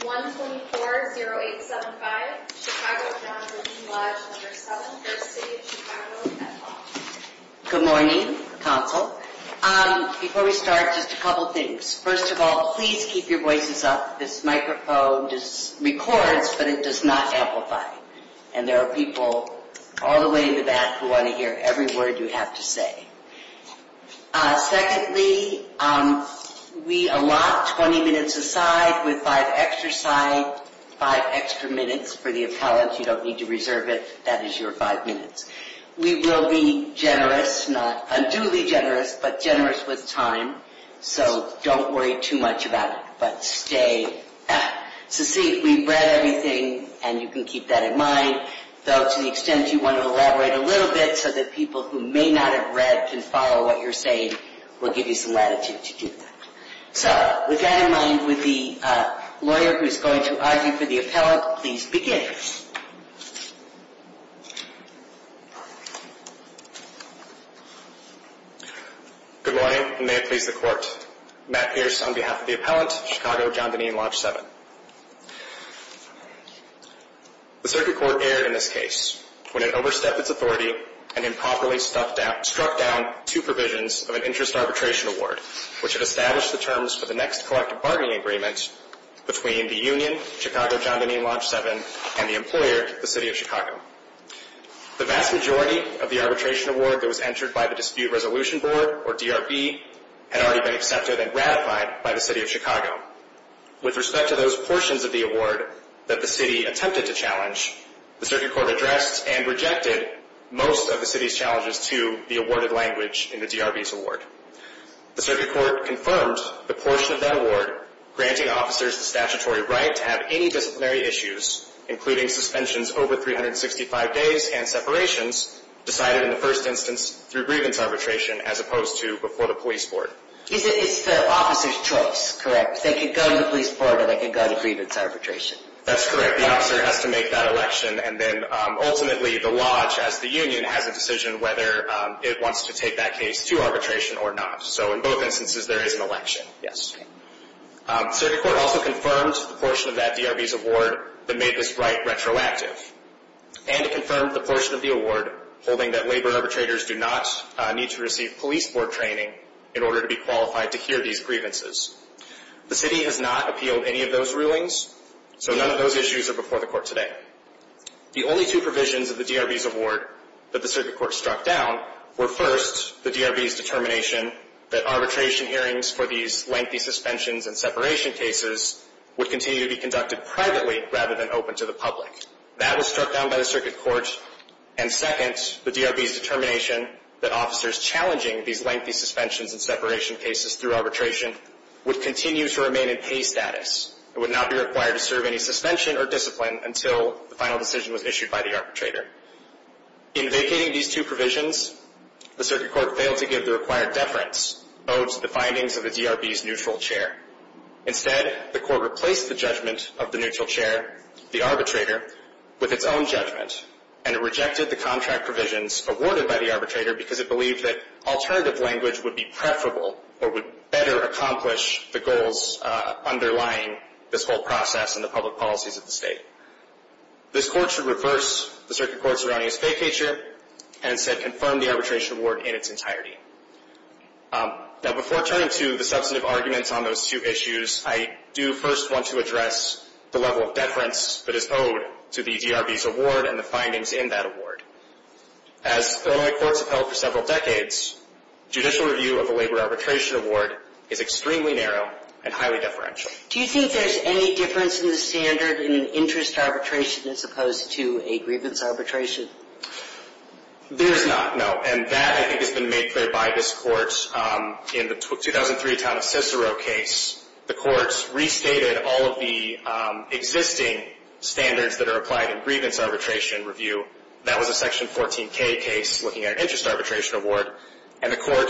1-24-0875 Chicago John Dineen Lodge 7 v. City of Chicago Good morning, Council. Before we start, just a couple of things. First of all, please keep your voices up. This microphone records, but it does not amplify. And there are people all the way in the back who want to hear every word you have to say. Secondly, we allot 20 minutes a side with 5 extra side, 5 extra minutes for the appellant. You don't need to reserve it. That is your 5 minutes. We will be generous, not unduly generous, but generous with time. So don't worry too much about it, but stay at. So see, we've read everything, and you can keep that in mind. Though to the extent you want to elaborate a little bit so that people who may not have read can follow what you're saying, we'll give you some latitude to do that. So with that in mind, would the lawyer who is going to argue for the appellant please begin? Good morning, and may it please the Court. Matt Pierce on behalf of the appellant, Chicago John Dineen Lodge 7. The Circuit Court erred in this case when it overstepped its authority and improperly struck down two provisions of an interest arbitration award, which had established the terms for the next collective bargaining agreement between the union, Chicago John Dineen Lodge 7, and the employer, the City of Chicago. The vast majority of the arbitration award that was entered by the Dispute Resolution Board, or DRB, had already been accepted and ratified by the City of Chicago. With respect to those portions of the award that the City attempted to challenge, the Circuit Court addressed and rejected most of the City's challenges to the awarded language in the DRB's award. The Circuit Court confirmed the portion of that award granting officers the statutory right to have any disciplinary issues, including suspensions over 365 days and separations, decided in the first instance through grievance arbitration as opposed to before the Police Board. It's the officer's choice, correct? They can go to the Police Board or they can go to grievance arbitration. That's correct. The officer has to make that election, and then ultimately the Lodge, as the union, has a decision whether it wants to take that case to arbitration or not. So in both instances, there is an election. The Circuit Court also confirmed the portion of that DRB's award that made this right retroactive, and it confirmed the portion of the award holding that labor arbitrators do not need to receive Police Board training in order to be qualified to hear these grievances. The City has not appealed any of those rulings, so none of those issues are before the Court today. The only two provisions of the DRB's award that the Circuit Court struck down were, first, the DRB's determination that arbitration hearings for these lengthy suspensions and separation cases would continue to be conducted privately rather than open to the public. That was struck down by the Circuit Court. And, second, the DRB's determination that officers challenging these lengthy suspensions and separation cases through arbitration would continue to remain in case status and would not be required to serve any suspension or discipline until the final decision was issued by the arbitrator. In vacating these two provisions, the Circuit Court failed to give the required deference owed to the findings of the DRB's neutral chair. Instead, the Court replaced the judgment of the neutral chair, the arbitrator, with its own judgment and rejected the contract provisions awarded by the arbitrator because it believed that alternative language would be preferable or would better accomplish the goals underlying this whole process and the public policies of the State. This Court should reverse the Circuit Court's surrounding vacatur and, instead, confirm the arbitration award in its entirety. Now, before turning to the substantive arguments on those two issues, I do first want to address the level of deference that is owed to the DRB's award and the findings in that award. As Illinois courts have held for several decades, judicial review of a labor arbitration award is extremely narrow and highly deferential. Do you think there's any difference in the standard in an interest arbitration as opposed to a grievance arbitration? There is not, no. And that, I think, has been made clear by this Court in the 2003 town of Cicero case. The Court restated all of the existing standards that are applied in grievance arbitration review. That was a Section 14K case looking at an interest arbitration award. And the Court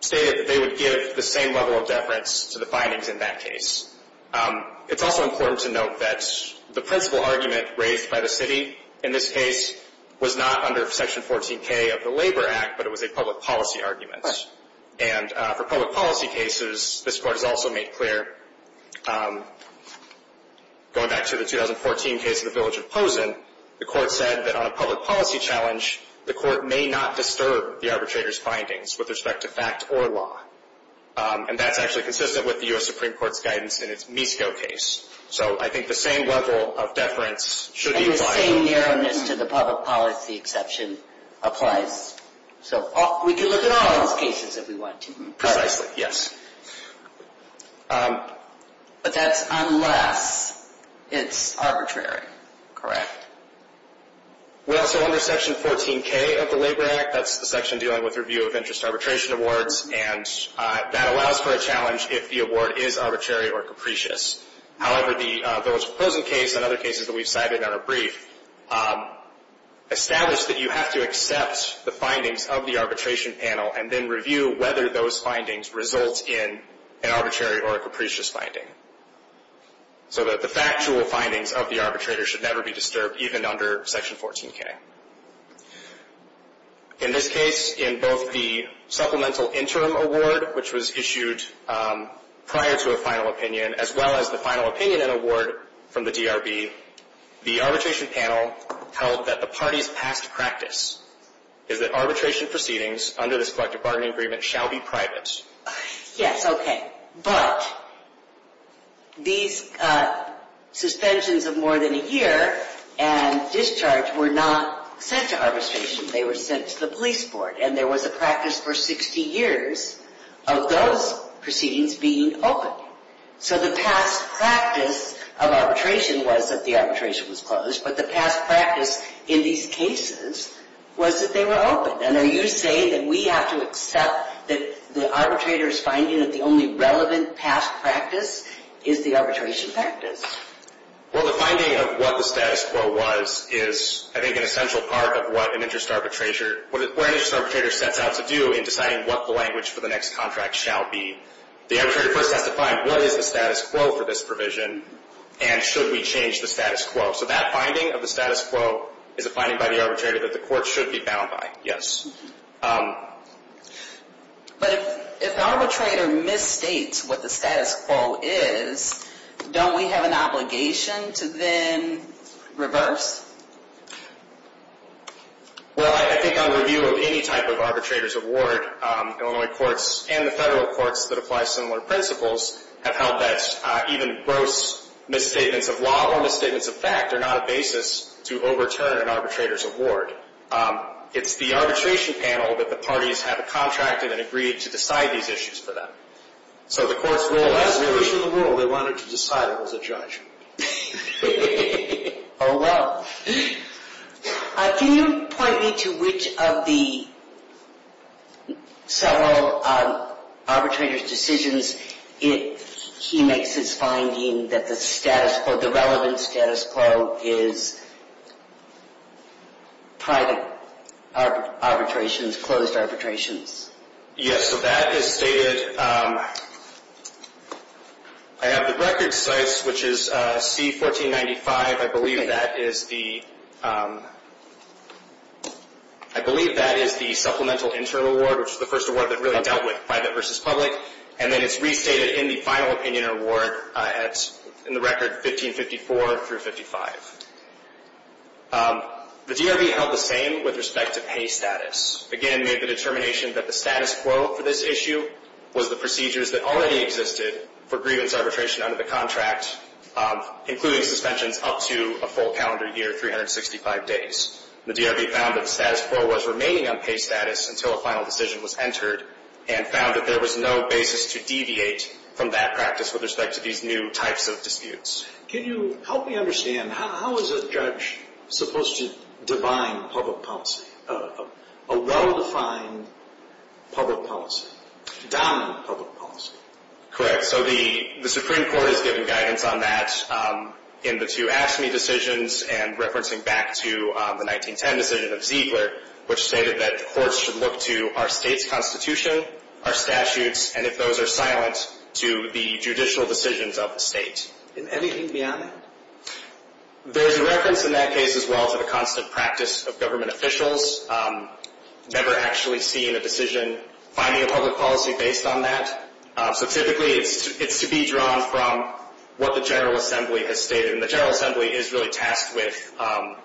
stated that they would give the same level of deference to the findings in that case. It's also important to note that the principal argument raised by the City in this case was not under Section 14K of the Labor Act, but it was a public policy argument. And for public policy cases, this Court has also made clear, going back to the 2014 case of the village of Pozen, the Court said that on a public policy challenge, the Court may not disturb the arbitrator's findings with respect to fact or law. And that's actually consistent with the U.S. Supreme Court's guidance in its Misco case. So I think the same level of deference should be applied. And the same narrowness to the public policy exception applies. So we can look at all of those cases if we want to. Precisely, yes. But that's unless it's arbitrary. Correct. Well, so under Section 14K of the Labor Act, that's the section dealing with review of interest arbitration awards, and that allows for a challenge if the award is arbitrary or capricious. However, the village of Pozen case and other cases that we've cited in our brief establish that you have to accept the findings of the arbitration panel and then review whether those findings result in an arbitrary or a capricious finding. So that the factual findings of the arbitrator should never be disturbed, even under Section 14K. In this case, in both the supplemental interim award, which was issued prior to a final opinion, as well as the final opinion and award from the DRB, the arbitration panel held that the party's past practice is that arbitration proceedings under this collective bargaining agreement shall be private. Yes, okay. But these suspensions of more than a year and discharge were not sent to arbitration. They were sent to the police board. And there was a practice for 60 years of those proceedings being open. So the past practice of arbitration was that the arbitration was closed, but the past practice in these cases was that they were open. And are you saying that we have to accept that the arbitrator's finding that the only relevant past practice is the arbitration practice? Well, the finding of what the status quo was is, I think, an essential part of what an interest arbitrator sets out to do in deciding what the language for the next contract shall be. The arbitrator first has to find what is the status quo for this provision and should we change the status quo. So that finding of the status quo is a finding by the arbitrator that the court should be bound by, yes. But if the arbitrator misstates what the status quo is, don't we have an obligation to then reverse? Well, I think on review of any type of arbitrator's award, Illinois courts and the federal courts that apply similar principles have held that even gross misstatements of law or misstatements of fact are not a basis to overturn an arbitrator's award. It's the arbitration panel that the parties have contracted and agreed to decide these issues for them. So the court's rule has to be the rule. They wanted to decide it as a judge. Oh, well. Can you point me to which of the several arbitrator's decisions he makes his finding that the relevant status quo is private arbitrations, closed arbitrations? Yes, so that is stated. I have the record size, which is C-1495. I believe that is the supplemental interim award, which is the first award that really dealt with private versus public. And then it's restated in the final opinion award in the record 1554 through 55. The DRV held the same with respect to pay status. Again, made the determination that the status quo for this issue was the procedures that already existed for grievance arbitration under the contract, including suspensions up to a full calendar year, 365 days. The DRV found that the status quo was remaining on pay status until a final decision was entered and found that there was no basis to deviate from that practice with respect to these new types of disputes. Can you help me understand, how is a judge supposed to divine public policy? A well-defined public policy. Dominant public policy. So the Supreme Court has given guidance on that in the two AFSCME decisions and referencing back to the 1910 decision of Ziegler, which stated that courts should look to our state's constitution, our statutes, and if those are silent, to the judicial decisions of the state. And anything beyond that? There's a reference in that case as well to the constant practice of government officials never actually seeing a decision, finding a public policy based on that. So typically it's to be drawn from what the General Assembly has stated, and the General Assembly is really tasked with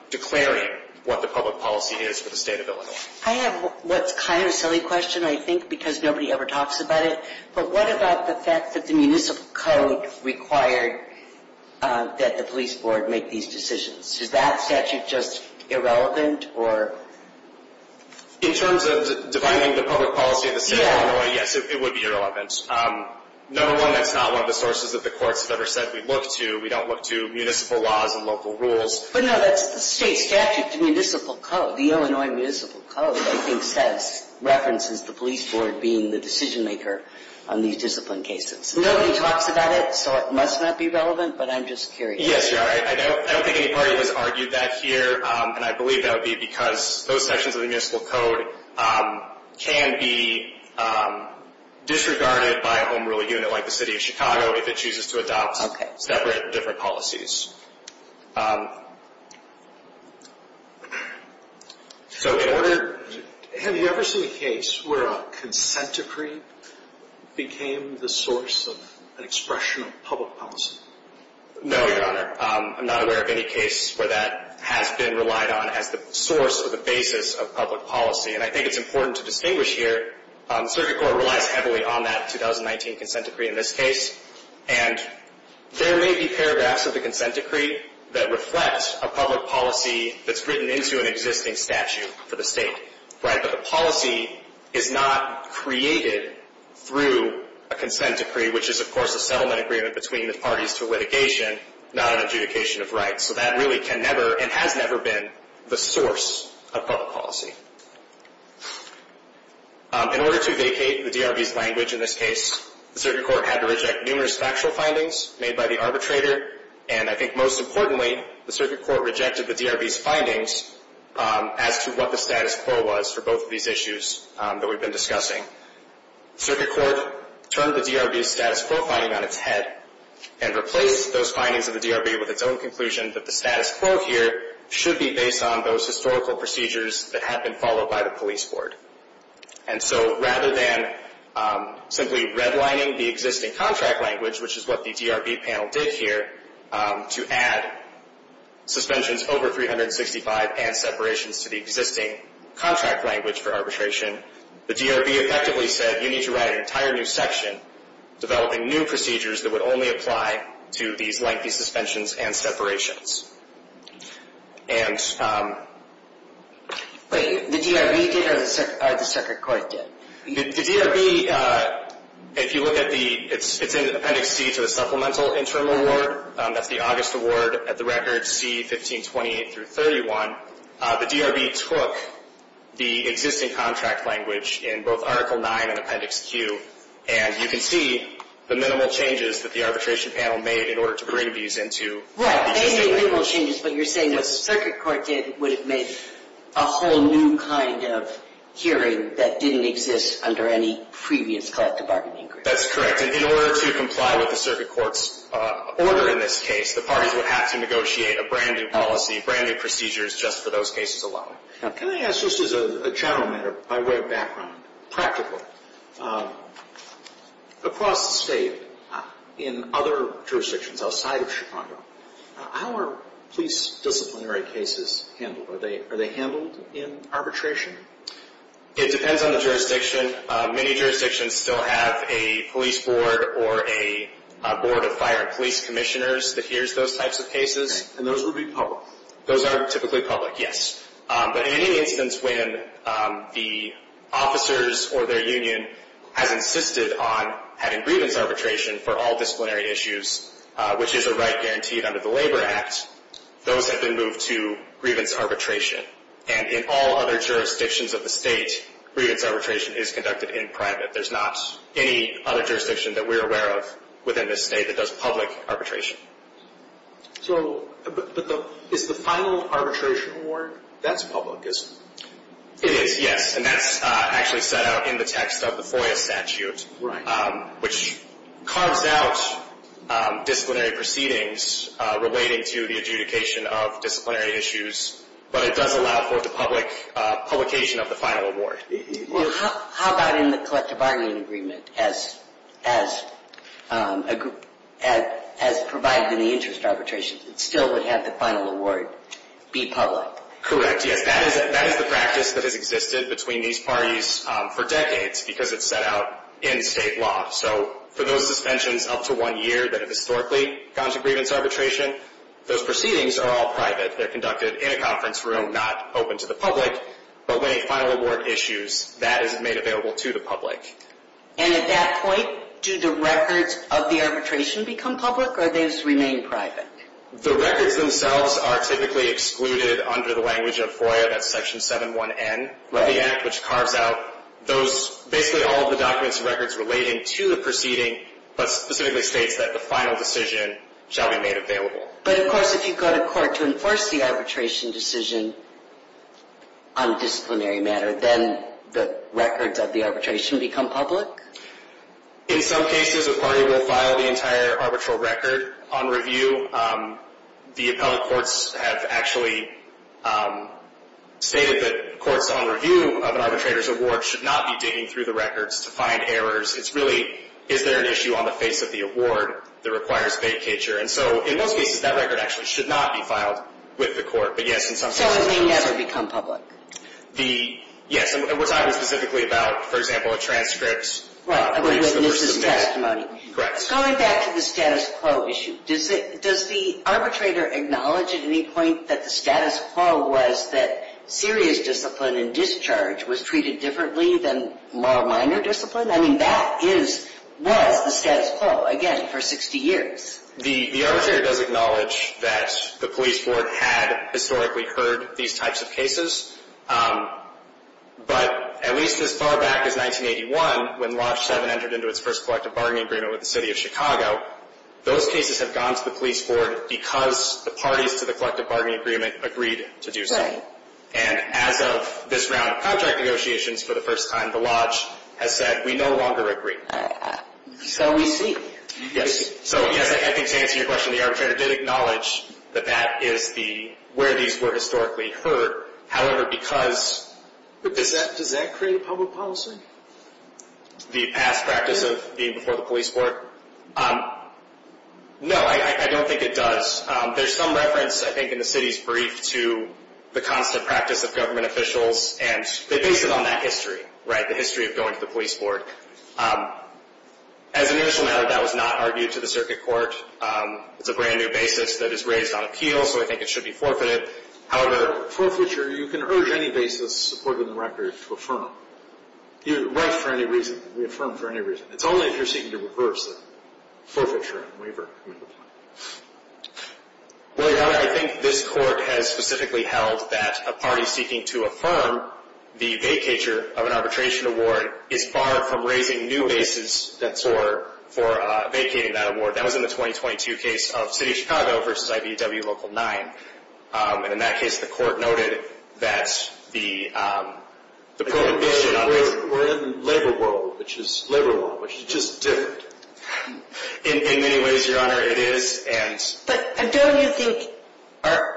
declaring what the public policy is for the state of Illinois. I have what's kind of a silly question, I think, because nobody ever talks about it, but what about the fact that the municipal code required that the police board make these decisions? Is that statute just irrelevant, or? In terms of defining the public policy of the state of Illinois, yes, it would be irrelevant. Number one, that's not one of the sources that the courts have ever said we look to. We don't look to municipal laws and local rules. But no, that's the state statute, the municipal code, the Illinois municipal code, I think references the police board being the decision maker on these discipline cases. Nobody talks about it, so it must not be relevant, but I'm just curious. Yes, I don't think any party has argued that here, and I believe that would be because those sections of the municipal code can be disregarded by a home rule unit like the city of Chicago if it chooses to adopt separate, different policies. Have you ever seen a case where a consent decree became the source of an expression of public policy? No, Your Honor. I'm not aware of any case where that has been relied on as the source or the basis of public policy, and I think it's important to distinguish here. Circuit Court relies heavily on that 2019 consent decree in this case, and there may be paragraphs of the consent decree that reflect a public policy that's written into an existing statute for the state, right? But the policy is not created through a consent decree, which is, of course, a settlement agreement between the parties to litigation, not an adjudication of rights. So that really can never and has never been the source of public policy. In order to vacate the DRB's language in this case, the Circuit Court had to reject numerous factual findings made by the arbitrator, and I think most importantly, the Circuit Court rejected the DRB's findings as to what the status quo was for both of these issues that we've been discussing. Circuit Court turned the DRB's status quo finding on its head and replaced those findings of the DRB with its own conclusion that the status quo here should be based on those historical procedures that had been followed by the police board. And so rather than simply redlining the existing contract language, which is what the DRB panel did here to add suspensions over 365 and separations to the existing contract language for arbitration, the DRB effectively said, you need to write an entire new section developing new procedures that would only apply to these lengthy suspensions and separations. And... Wait, the DRB did or the Circuit Court did? The DRB, if you look at the... It's in Appendix C to the Supplemental Interim Award. That's the August award at the record C-1528-31. The DRB took the existing contract language in both Article IX and Appendix Q, and you can see the minimal changes that the arbitration panel made in order to bring these into the existing language. Right, they made minimal changes, but you're saying the Circuit Court did would have made a whole new kind of hearing that didn't exist under any previous collective bargaining agreement. That's correct. In order to comply with the Circuit Court's order in this case, the parties would have to negotiate a brand-new policy, brand-new procedures just for those cases alone. Can I ask, just as a channel matter, by way of background, practical, across the state, in other jurisdictions outside of Chicago, how are police disciplinary cases handled? Are they handled in arbitration? It depends on the jurisdiction. Many jurisdictions still have a police board or a board of fire police commissioners that hears those types of cases. And those would be public? Those are typically public, yes. But in any instance when the officers or their union has insisted on having grievance arbitration for all disciplinary issues, which is a right guaranteed under the Labor Act, those have been moved to grievance arbitration. And in all other jurisdictions of the state, grievance arbitration is conducted in private. There's not any other jurisdiction that we're aware of within this state that does public arbitration. So is the final arbitration award, that's public, isn't it? It is, yes. And that's actually set out in the text of the FOIA statute, which carves out disciplinary proceedings relating to the adjudication of disciplinary issues, but it does allow for the publication of the final award. How about in the collective bargaining agreement, as provided in the interest arbitration, it still would have the final award be public? Correct, yes. That is the practice that has existed between these parties for decades because it's set out in state law. So for those suspensions up to one year that have historically gone to grievance arbitration, those proceedings are all private. They're conducted in a conference room, not open to the public. But when a final award issues, that is made available to the public. And at that point, do the records of the arbitration become public or do they just remain private? The records themselves are typically excluded under the language of FOIA, that's Section 7-1N, Levy Act, which carves out those, basically all of the documents and records relating to the proceeding, but specifically states that the final decision shall be made available. But, of course, if you go to court to enforce the arbitration decision on a disciplinary matter, then the records of the arbitration become public? In some cases, a party will file the entire arbitral record on review. The appellate courts have actually stated that courts, on review of an arbitrator's award, should not be digging through the records to find errors. It's really, is there an issue on the face of the award that requires vacature? And so, in most cases, that record actually should not be filed with the court. But, yes, in some cases. So it may never become public? Yes, and we're talking specifically about, for example, a transcript. Right, a witness's testimony. Correct. Going back to the status quo issue, does the arbitrator acknowledge at any point that the status quo was that serious discipline and discharge was treated differently than more minor discipline? I mean, that was the status quo, again, for 60 years. The arbitrator does acknowledge that the police board had historically heard these types of cases. But at least as far back as 1981, when Lodge 7 entered into its first collective bargaining agreement with the city of Chicago, those cases have gone to the police board because the parties to the collective bargaining agreement agreed to do so. Right. And as of this round of contract negotiations, for the first time, the Lodge has said, we no longer agree. So we see. So, yes, I think to answer your question, the arbitrator did acknowledge that that is where these were historically heard. However, because. Does that create a public policy? The past practice of being before the police board? No, I don't think it does. There's some reference, I think, in the city's brief to the constant practice of government officials, and they base it on that history, right, the history of going to the police board. As an initial matter, that was not argued to the circuit court. It's a brand new basis that is raised on appeal, so I think it should be forfeited. However. Forfeiture, you can urge any basis supported in the record to affirm it. You write for any reason, we affirm for any reason. It's only if you're seeking to reverse the forfeiture waiver. Well, Your Honor, I think this court has specifically held that a party seeking to affirm the vacatur of an arbitration award is barred from raising new basis for vacating that award. That was in the 2022 case of City of Chicago versus IBEW Local 9. And in that case, the court noted that the prohibition on. We're in the labor world, which is labor law, which is just different. In many ways, Your Honor, it is, and. But don't you think that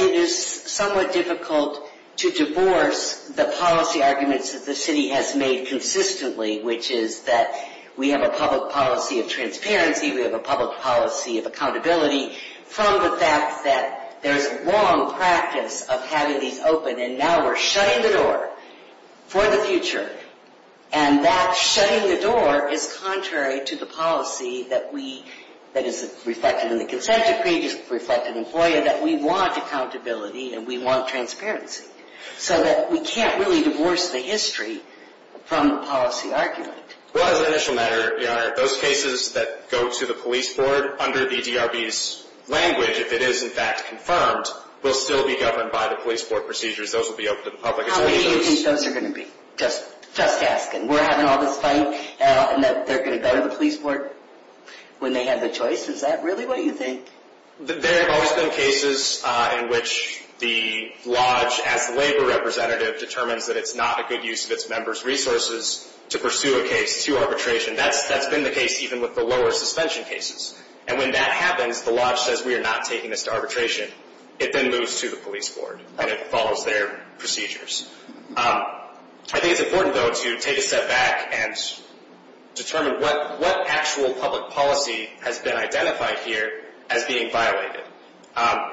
it is somewhat difficult to divorce the policy arguments that the city has made consistently, which is that we have a public policy of transparency. We have a public policy of accountability from the fact that there's long practice of having these open. And now we're shutting the door for the future. And that shutting the door is contrary to the policy that is reflected in the consent decree, that is reflected in FOIA, that we want accountability and we want transparency. So that we can't really divorce the history from the policy argument. Well, as an initial matter, Your Honor, those cases that go to the police board under the DRB's language, if it is in fact confirmed, will still be governed by the police board procedures. Those will be open to the public. How many do you think those are going to be? Just asking. We're having all this fight, and they're going to go to the police board when they have the choice? Is that really what you think? There have always been cases in which the Lodge, as the labor representative, determines that it's not a good use of its members' resources to pursue a case to arbitration. That's been the case even with the lower suspension cases. And when that happens, the Lodge says, we are not taking this to arbitration. It then moves to the police board, and it follows their procedures. I think it's important, though, to take a step back and determine what actual public policy has been identified here as being violated.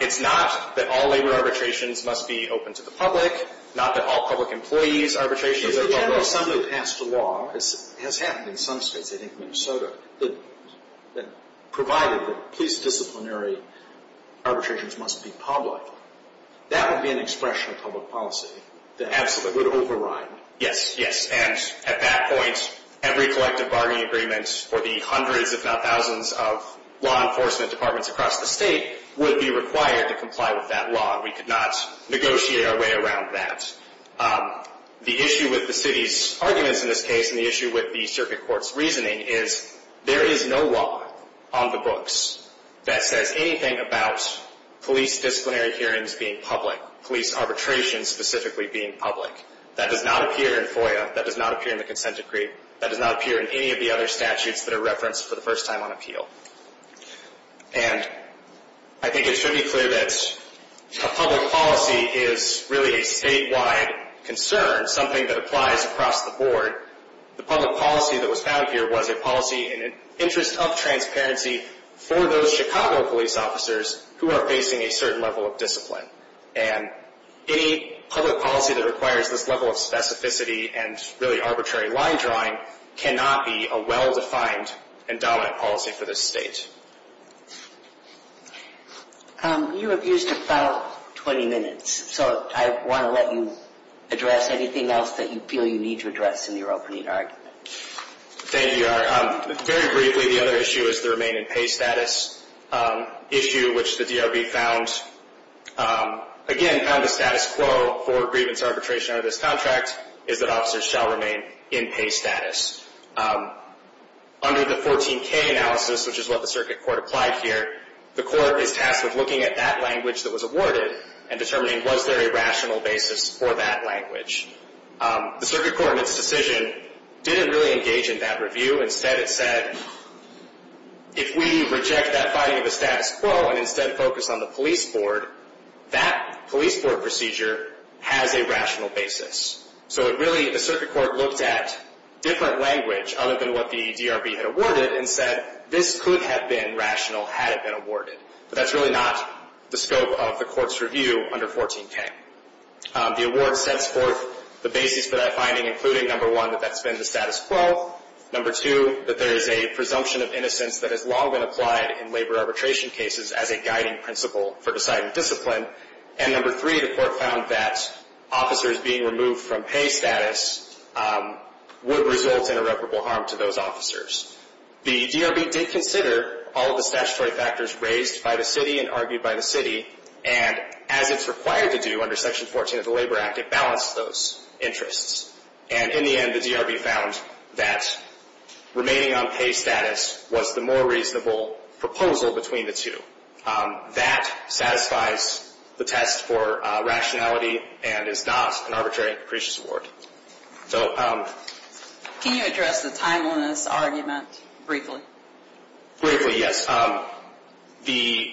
It's not that all labor arbitrations must be open to the public, not that all public employees arbitrations are open to the public. The General Assembly passed a law, as has happened in some states, I think Minnesota, that provided that police disciplinary arbitrations must be public. That would be an expression of public policy that would override. Yes, yes, and at that point, every collective bargaining agreement for the hundreds, if not thousands, of law enforcement departments across the state would be required to comply with that law, and we could not negotiate our way around that. The issue with the city's arguments in this case, and the issue with the circuit court's reasoning, is there is no law on the books that says anything about police disciplinary hearings being public, police arbitrations specifically being public. That does not appear in FOIA. That does not appear in the consent decree. That does not appear in any of the other statutes that are referenced for the first time on appeal. And I think it should be clear that public policy is really a statewide concern, something that applies across the board. The public policy that was found here was a policy in an interest of transparency for those Chicago police officers who are facing a certain level of discipline. And any public policy that requires this level of specificity and really arbitrary line drawing cannot be a well-defined and dominant policy for this state. You have used about 20 minutes, so I want to let you address anything else that you feel you need to address in your opening argument. Thank you, Your Honor. Very briefly, the other issue is the remain-in-pay status issue, which the DRB found, again, found the status quo for grievance arbitration under this contract is that officers shall remain in pay status. Under the 14K analysis, which is what the circuit court applied here, the court is tasked with looking at that language that was awarded and determining was there a rational basis for that language. The circuit court in its decision didn't really engage in that review. Instead, it said, if we reject that finding of a status quo and instead focus on the police board, that police board procedure has a rational basis. So really, the circuit court looked at different language other than what the DRB had awarded and said this could have been rational had it been awarded. But that's really not the scope of the court's review under 14K. The award sets forth the basis for that finding, including, number one, that that's been the status quo, number two, that there is a presumption of innocence that has long been applied in labor arbitration cases as a guiding principle for deciding discipline, and number three, the court found that officers being removed from pay status would result in irreparable harm to those officers. The DRB did consider all of the statutory factors raised by the city and argued by the city, and as it's required to do under Section 14 of the Labor Act, it balanced those interests. And in the end, the DRB found that remaining on pay status was the more reasonable proposal between the two. That satisfies the test for rationality and is not an arbitrary and capricious award. Can you address the timeliness argument briefly? Briefly, yes. The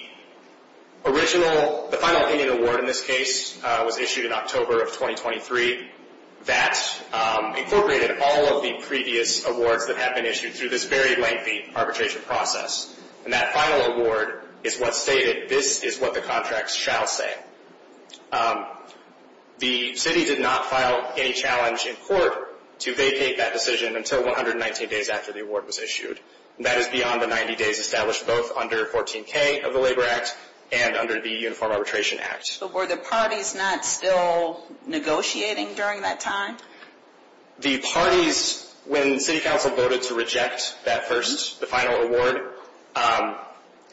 original, the final opinion award in this case was issued in October of 2023. That incorporated all of the previous awards that have been issued through this very lengthy arbitration process. And that final award is what stated, this is what the contracts shall say. The city did not file any challenge in court to vacate that decision until 119 days after the award was issued. That is beyond the 90 days established both under 14K of the Labor Act and under the Uniform Arbitration Act. But were the parties not still negotiating during that time? The parties, when city council voted to reject that first, the final award,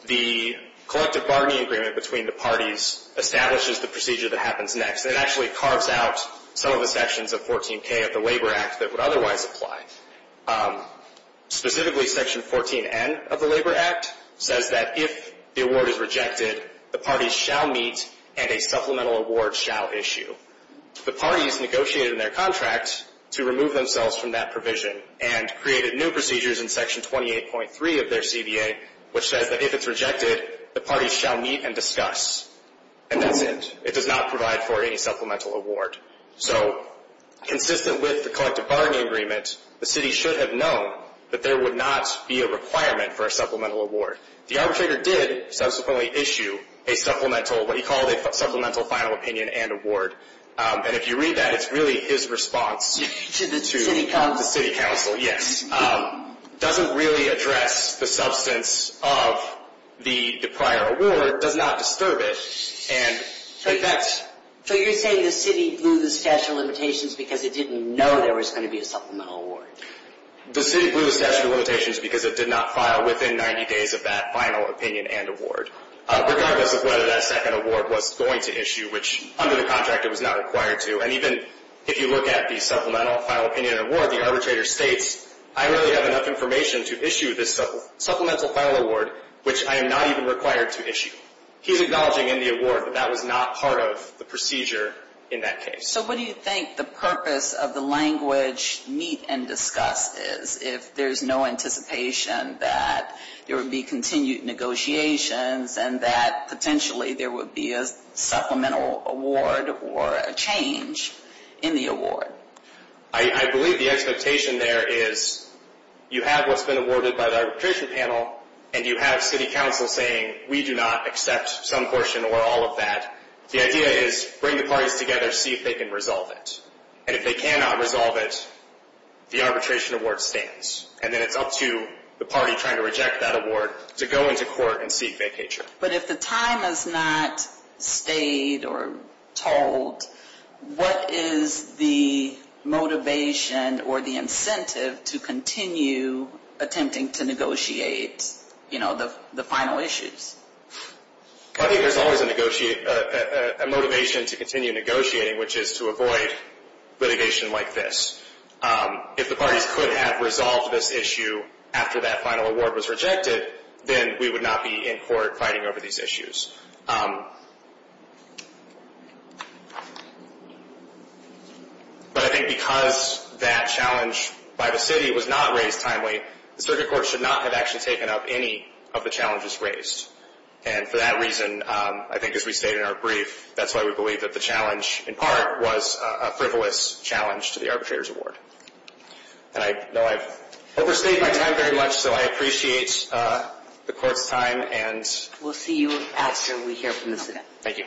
the collective bargaining agreement between the parties establishes the procedure that happens next. It actually carves out some of the sections of 14K of the Labor Act that would otherwise apply. Specifically, Section 14N of the Labor Act says that if the award is rejected, the parties shall meet and a supplemental award shall issue. The parties negotiated in their contract to remove themselves from that provision and created new procedures in Section 28.3 of their CDA, which says that if it's rejected, the parties shall meet and discuss. And that's it. It does not provide for any supplemental award. So consistent with the collective bargaining agreement, the city should have known that there would not be a requirement for a supplemental award. The arbitrator did subsequently issue a supplemental, what he called a supplemental final opinion and award. And if you read that, it's really his response to the city council. It doesn't really address the substance of the prior award. It does not disturb it. So you're saying the city blew the statute of limitations because it didn't know there was going to be a supplemental award? The city blew the statute of limitations because it did not file within 90 days of that final opinion and award. Regardless of whether that second award was going to issue, which under the contract it was not required to. And even if you look at the supplemental final opinion and award, the arbitrator states, I really have enough information to issue this supplemental final award, which I am not even required to issue. He's acknowledging in the award that that was not part of the procedure in that case. So what do you think the purpose of the language meet and discuss is, if there's no anticipation that there would be continued negotiations and that potentially there would be a supplemental award or a change in the award? I believe the expectation there is you have what's been awarded by the arbitration panel and you have city council saying we do not accept some portion or all of that. The idea is bring the parties together, see if they can resolve it. And if they cannot resolve it, the arbitration award stands. And then it's up to the party trying to reject that award to go into court and seek vacatur. But if the time has not stayed or told, what is the motivation or the incentive to continue attempting to negotiate the final issues? I think there's always a motivation to continue negotiating, which is to avoid litigation like this. If the parties could have resolved this issue after that final award was rejected, then we would not be in court fighting over these issues. But I think because that challenge by the city was not raised timely, the circuit court should not have actually taken up any of the challenges raised. And for that reason, I think as we stated in our brief, that's why we believe that the challenge in part was a frivolous challenge to the arbitrator's award. And I know I've overstayed my time very much, so I appreciate the court's time. We'll see you after we hear from the city. Thank you.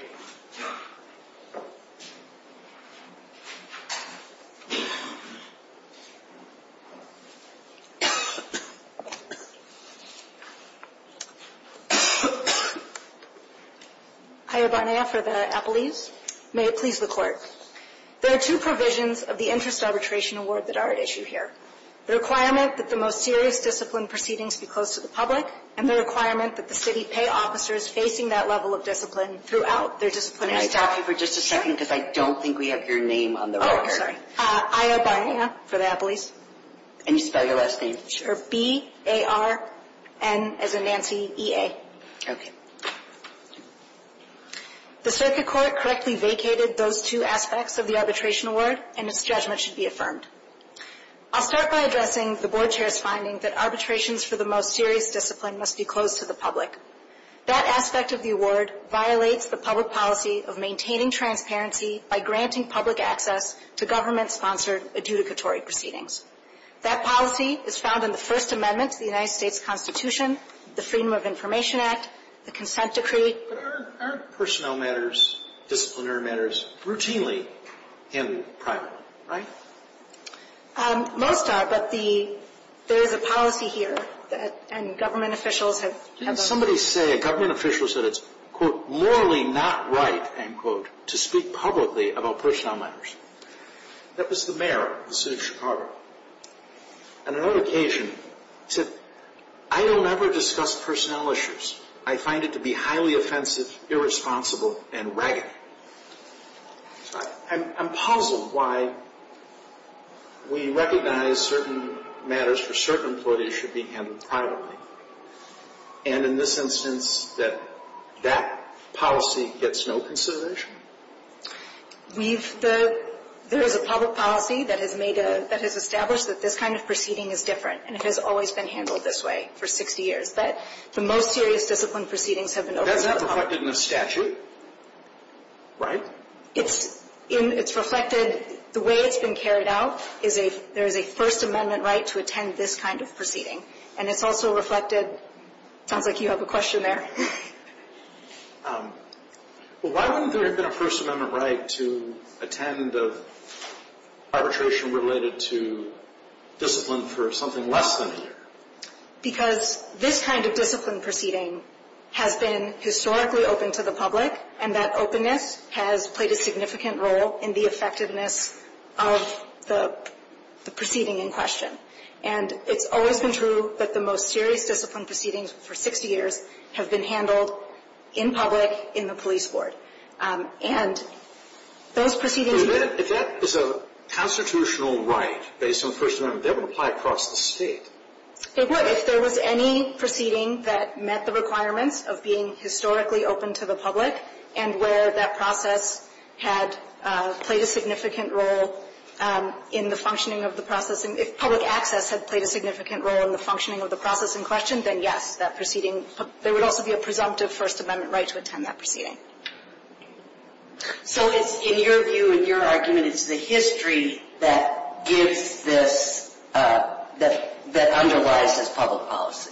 Aya Barnea for the Appleese. May it please the Court. There are two provisions of the Interest Arbitration Award that are at issue here. The requirement that the most serious discipline proceedings be closed to the public, and the requirement that the city pay officers facing that level of discipline throughout their disciplinary staff. Can I talk to you for just a second because I don't think we have your name on the record. Oh, I'm sorry. Aya Barnea for the Appleese. Can you spell your last name? Sure. Her B-A-R-N as in Nancy, E-A. Okay. The circuit court correctly vacated those two aspects of the arbitration award, and its judgment should be affirmed. I'll start by addressing the Board Chair's finding that arbitrations for the most serious discipline must be closed to the public. That aspect of the award violates the public policy of maintaining transparency by granting public access to government-sponsored adjudicatory proceedings. That policy is found in the First Amendment to the United States Constitution, the Freedom of Information Act, the Consent Decree. But aren't personnel matters, disciplinary matters, routinely handled privately, right? Most are, but there is a policy here, and government officials have... Didn't somebody say a government official said it's, quote, morally not right, end quote, to speak publicly about personnel matters? That was the mayor of the city of Chicago. On another occasion, he said, I don't ever discuss personnel issues. I find it to be highly offensive, irresponsible, and raggedy. I'm puzzled why we recognize certain matters for certain employees should be handled privately, and in this instance that that policy gets no consideration? We've... There is a public policy that has established that this kind of proceeding is different, and it has always been handled this way for 60 years. But the most serious discipline proceedings have been... That's not reflected in the statute, right? It's reflected... The way it's been carried out is there is a First Amendment right to attend this kind of proceeding, and it's also reflected... It sounds like you have a question there. Why wouldn't there have been a First Amendment right to attend arbitration related to discipline for something less than a year? Because this kind of discipline proceeding has been historically open to the public, and that openness has played a significant role in the effectiveness of the proceeding in question. And it's always been true that the most serious discipline proceedings for 60 years have been handled in public, in the police board. And those proceedings... If that is a constitutional right based on the First Amendment, that would apply across the state. It would if there was any proceeding that met the requirements of being historically open to the public and where that process had played a significant role in the functioning of the process. And if public access had played a significant role in the functioning of the process in question, then, yes, that proceeding... There would also be a presumptive First Amendment right to attend that proceeding. So it's in your view, in your argument, it's the history that gives this, that underlies this public policy.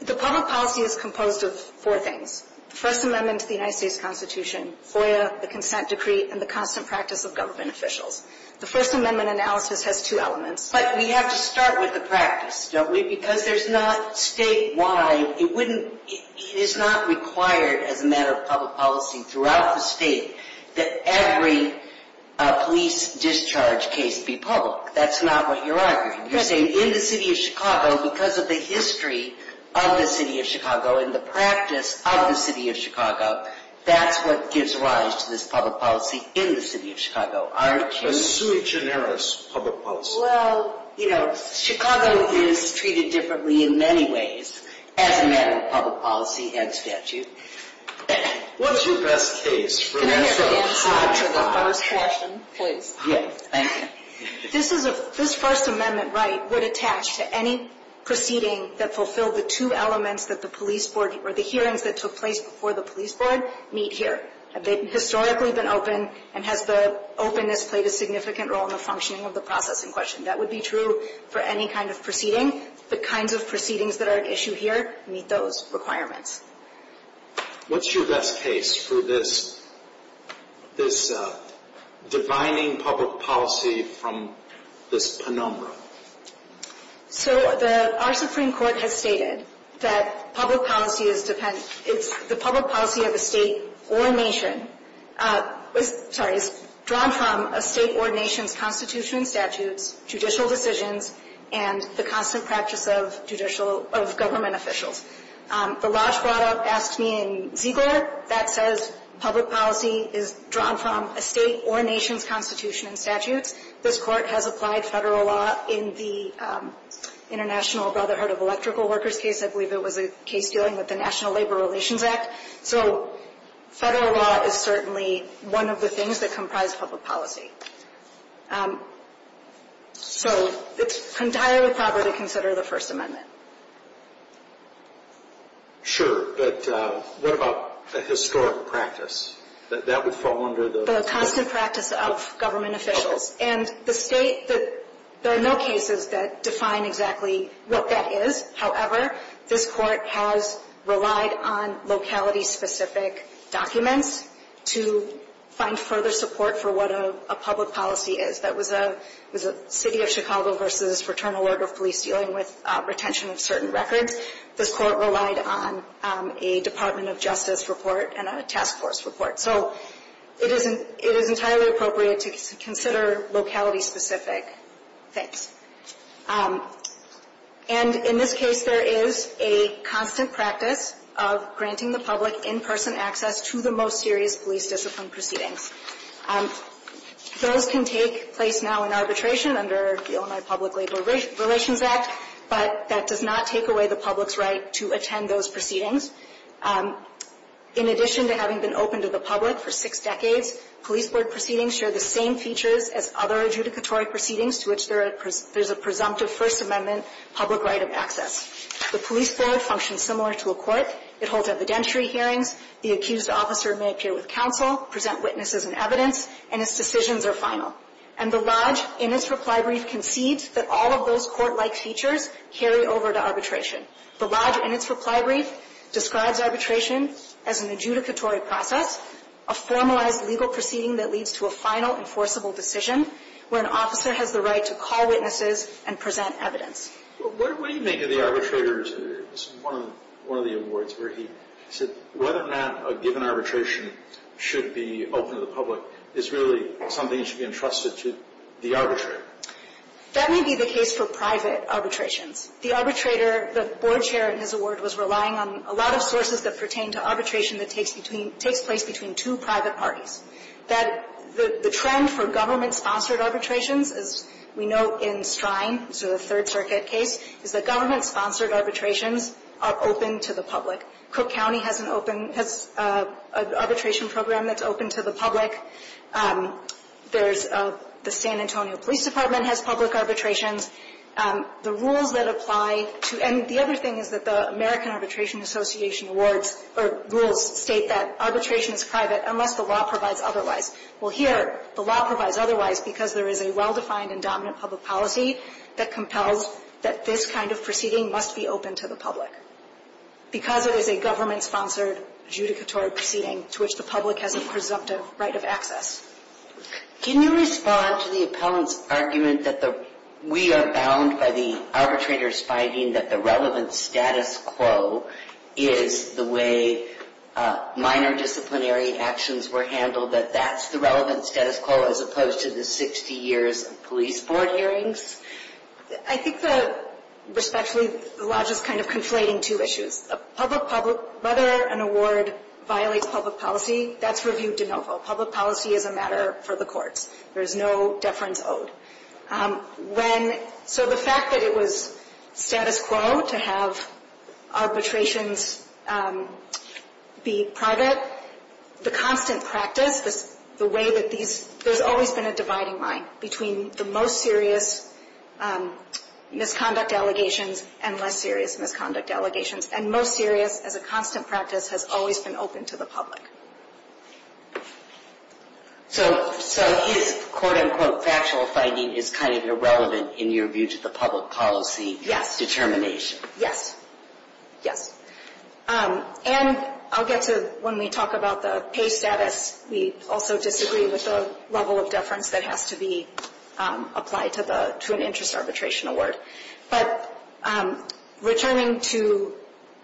The public policy is composed of four things. The First Amendment to the United States Constitution, FOIA, the consent decree, and the constant practice of government officials. The First Amendment analysis has two elements. But we have to start with the practice, don't we? Because there's not statewide... It wouldn't... It is not required as a matter of public policy throughout the state that every police discharge case be public. That's not what you're arguing. You're saying in the city of Chicago, because of the history of the city of Chicago and the practice of the city of Chicago, that's what gives rise to this public policy in the city of Chicago, aren't you? A sui generis public policy. Well, you know, Chicago is treated differently in many ways as a matter of public policy and statute. What's your best case for that? Can I have an answer to the first question, please? Yes, thank you. This First Amendment right would attach to any proceeding that fulfilled the two elements that the police board or the hearings that took place before the police board meet here. Have they historically been open? And has the openness played a significant role in the functioning of the process in question? That would be true for any kind of proceeding. The kinds of proceedings that are at issue here meet those requirements. What's your best case for this divining public policy from this penumbra? So, our Supreme Court has stated that public policy is dependent, it's the public policy of a state or nation, sorry, is drawn from a state or nation's constitution and statutes, judicial decisions, and the constant practice of government officials. The lodge brought up, asked me in Ziegler, that says public policy is drawn from a state or nation's constitution and statutes. This Court has applied federal law in the International Brotherhood of Electrical Workers case. I believe it was a case dealing with the National Labor Relations Act. So, federal law is certainly one of the things that comprise public policy. So, it's entirely proper to consider the First Amendment. Sure. But what about the historic practice? That would fall under the... It's the practice of government officials. And the state, there are no cases that define exactly what that is. However, this Court has relied on locality-specific documents to find further support for what a public policy is. That was a City of Chicago v. Fraternal Order of Police dealing with retention of certain records. This Court relied on a Department of Justice report and a task force report. So, it is entirely appropriate to consider locality-specific things. And in this case, there is a constant practice of granting the public in-person access to the most serious police discipline proceedings. Those can take place now in arbitration under the Illinois Public Labor Relations Act, but that does not take away the public's right to attend those proceedings. In addition to having been open to the public for six decades, police board proceedings share the same features as other adjudicatory proceedings to which there is a presumptive First Amendment public right of access. The police board functions similar to a court. It holds evidentiary hearings. The accused officer may appear with counsel, present witnesses and evidence, and its decisions are final. And the Lodge, in its reply brief, concedes that all of those court-like features carry over to arbitration. The Lodge, in its reply brief, describes arbitration as an adjudicatory process, a formalized legal proceeding that leads to a final enforceable decision where an officer has the right to call witnesses and present evidence. What do you make of the arbitrator's, one of the awards, where he said whether or not a given arbitration should be open to the public is really something that should be entrusted to the arbitrator? That may be the case for private arbitrations. The arbitrator, the board chair in his award, was relying on a lot of sources that pertain to arbitration that takes place between two private parties. That the trend for government-sponsored arbitrations, as we know in Strine, so the Third Circuit case, is that government-sponsored arbitrations are open to the public. Cook County has an open, has an arbitration program that's open to the public. There's the San Antonio Police Department has public arbitrations. The rules that apply to, and the other thing is that the American Arbitration Association awards or rules state that arbitration is private unless the law provides otherwise. Well, here, the law provides otherwise because there is a well-defined and dominant public policy that compels that this kind of proceeding must be open to the public, because it is a government-sponsored adjudicatory proceeding to which the public has a presumptive right of access. Can you respond to the appellant's argument that we are bound by the arbitrator's finding that the relevant status quo is the way minor disciplinary actions were handled, that that's the relevant status quo as opposed to the 60 years of police board hearings? I think that, respectfully, the lodge is kind of conflating two issues. Public, whether an award violates public policy, that's reviewed de novo. Public policy is a matter for the courts. There is no deference owed. So the fact that it was status quo to have arbitrations be private, the constant practice, the way that these, there's always been a dividing line between the most serious misconduct allegations and less serious misconduct allegations, and most serious as a constant practice has always been open to the public. So his, quote, unquote, factual finding is kind of irrelevant in your view to the public policy determination? Yes. Yes. And I'll get to, when we talk about the pay status, we also disagree with the level of deference that has to be applied to an interest arbitration award. But returning to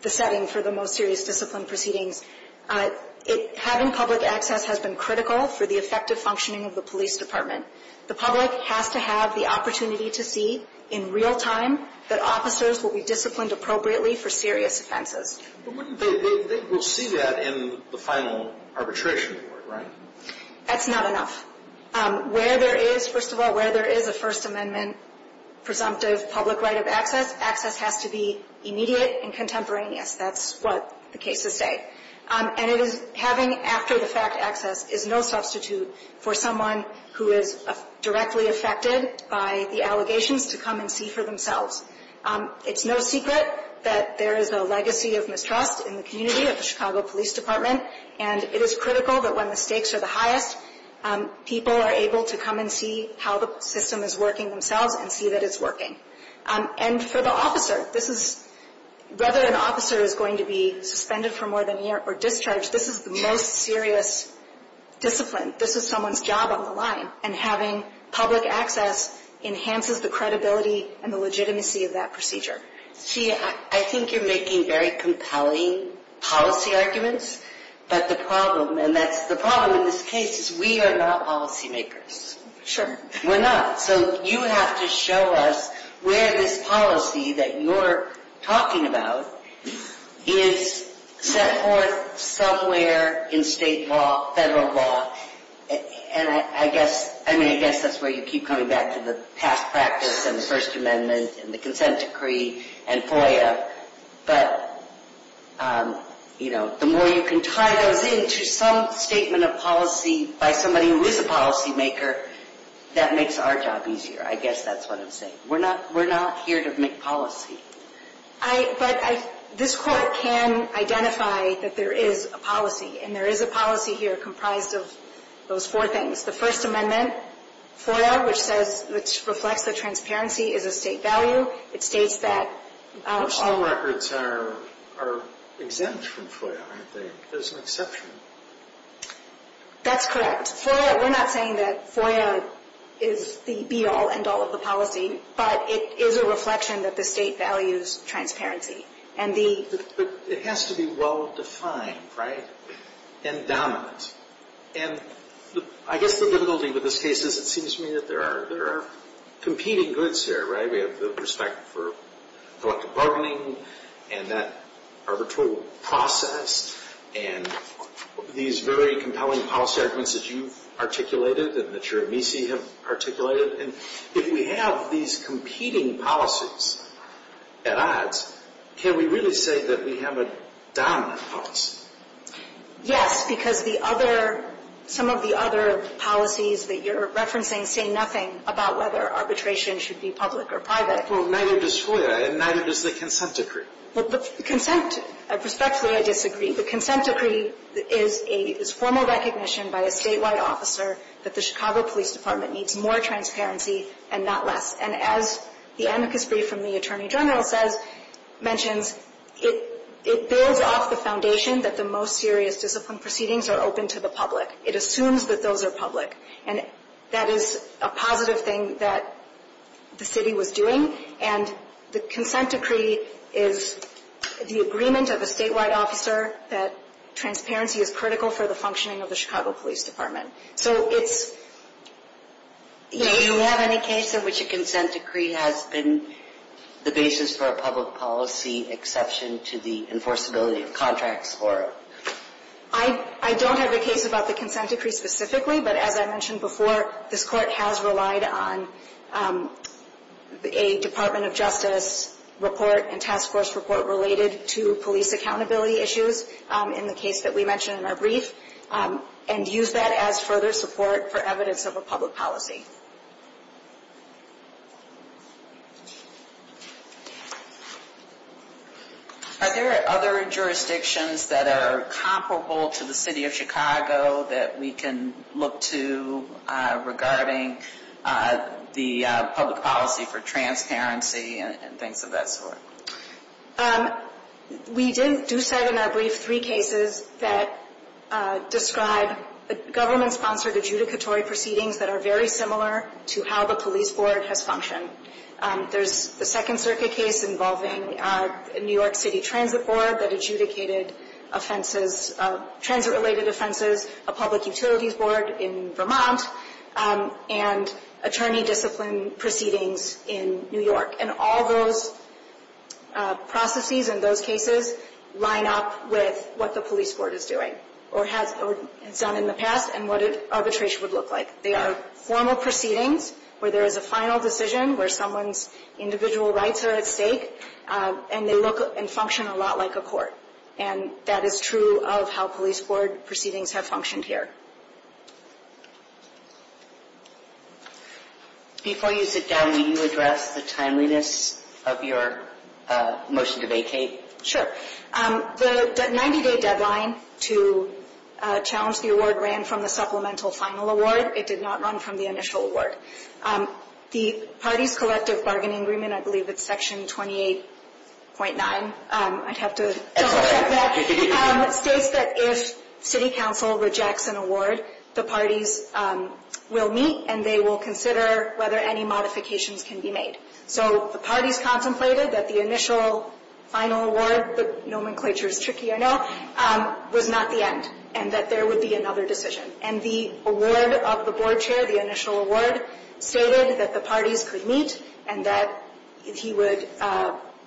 the setting for the most serious discipline proceedings, having public access has been critical for the effective functioning of the police department. The public has to have the opportunity to see in real time that officers will be disciplined appropriately for serious offenses. But wouldn't they, they will see that in the final arbitration award, right? That's not enough. Where there is, first of all, where there is a First Amendment presumptive public right of access, access has to be immediate and contemporaneous. That's what the cases say. And it is having after-the-fact access is no substitute for someone who is directly affected by the allegations to come and see for themselves. It's no secret that there is a legacy of mistrust in the community of the Chicago Police Department. And it is critical that when the stakes are the highest, people are able to come and see how the system is working themselves and see that it's working. And for the officer, this is, whether an officer is going to be suspended for more than a year or discharged, this is the most serious discipline. This is someone's job on the line. And having public access enhances the credibility and the legitimacy of that procedure. See, I think you're making very compelling policy arguments. But the problem, and that's the problem in this case, is we are not policymakers. Sure. We're not. So you have to show us where this policy that you're talking about is set forth somewhere in state law, federal law. And I guess, I mean, I guess that's where you keep coming back to the past practice and the First Amendment and the consent decree and FOIA. But, you know, the more you can tie those into some statement of policy by somebody who is a policymaker, that makes our job easier. I guess that's what I'm saying. We're not here to make policy. But this court can identify that there is a policy. And there is a policy here comprised of those four things, the First Amendment, FOIA, which says, which reflects that transparency is a state value. It states that. All records are exempt from FOIA, aren't they? There's an exception. That's correct. FOIA, we're not saying that FOIA is the be-all, end-all of the policy. But it is a reflection that the state values transparency. But it has to be well-defined, right, and dominant. And I guess the difficulty with this case is it seems to me that there are competing goods here, right? We have the respect for collective bargaining and that arbitral process and these very compelling policy arguments that you've articulated and that your amnesty have articulated. And if we have these competing policies at odds, can we really say that we have a dominant policy? Yes, because the other – some of the other policies that you're referencing say nothing about whether arbitration should be public or private. Well, neither does FOIA, and neither does the consent decree. Well, the consent – respectfully, I disagree. The consent decree is formal recognition by a statewide officer that the Chicago Police Department needs more transparency and not less. And as the amicus brief from the attorney general says – mentions, it builds off the foundation that the most serious discipline proceedings are open to the public. It assumes that those are public. And that is a positive thing that the city was doing. And the consent decree is the agreement of a statewide officer that transparency is critical for the functioning of the Chicago Police Department. So it's – Do you have any case in which a consent decree has been the basis for a public policy exception to the enforceability of contracts or – I don't have a case about the consent decree specifically, but as I mentioned before, this court has relied on a Department of Justice report and task force report related to police accountability issues in the case that we mentioned in our brief and used that as further support for evidence of a public policy. Are there other jurisdictions that are comparable to the city of Chicago that we can look to regarding the public policy for transparency and things of that sort? We do set in our brief three cases that describe government-sponsored adjudicatory proceedings that are very similar to how the police board has functioned. There's the Second Circuit case involving New York City Transit Board that adjudicated offenses – transit-related offenses, a public utilities board in Vermont, and attorney discipline proceedings in New York. And all those processes in those cases line up with what the police board is doing or has done in the past and what arbitration would look like. They are formal proceedings where there is a final decision, where someone's individual rights are at stake, and they look and function a lot like a court. And that is true of how police board proceedings have functioned here. Before you sit down, will you address the timeliness of your motion to vacate? Sure. The 90-day deadline to challenge the award ran from the supplemental final award. It did not run from the initial award. The parties' collective bargaining agreement, I believe it's section 28.9 – I'd have to double-check that – states that if city council rejects an award, the parties will meet and they will consider whether any modifications can be made. So the parties contemplated that the initial final award – the nomenclature is tricky, I know – was not the end and that there would be another decision. And the award of the board chair, the initial award, stated that the parties could meet and that he would –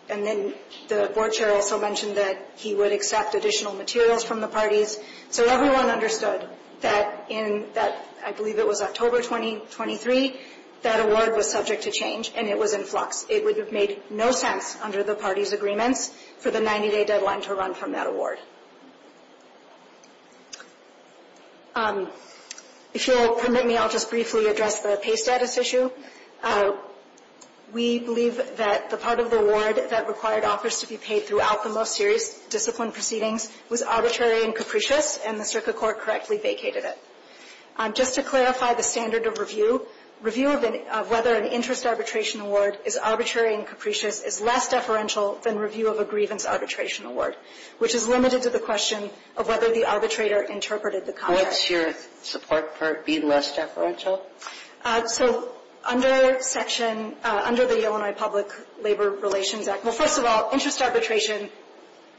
and then the board chair also mentioned that he would accept additional materials from the parties. So everyone understood that in that – I believe it was October 2023 – that award was subject to change, and it was in flux. It would have made no sense under the parties' agreements for the 90-day deadline to run from that award. If you'll permit me, I'll just briefly address the pay status issue. We believe that the part of the award that required offers to be paid throughout the most serious discipline proceedings was arbitrary and capricious, and the Circuit Court correctly vacated it. Just to clarify the standard of review, review of whether an interest arbitration award is arbitrary and capricious is less deferential than review of a grievance arbitration award, which is limited to the question of whether the arbitrator interpreted the contract. What's your support for it being less deferential? So under section – under the Illinois Public Labor Relations Act – well, first of all, interest arbitration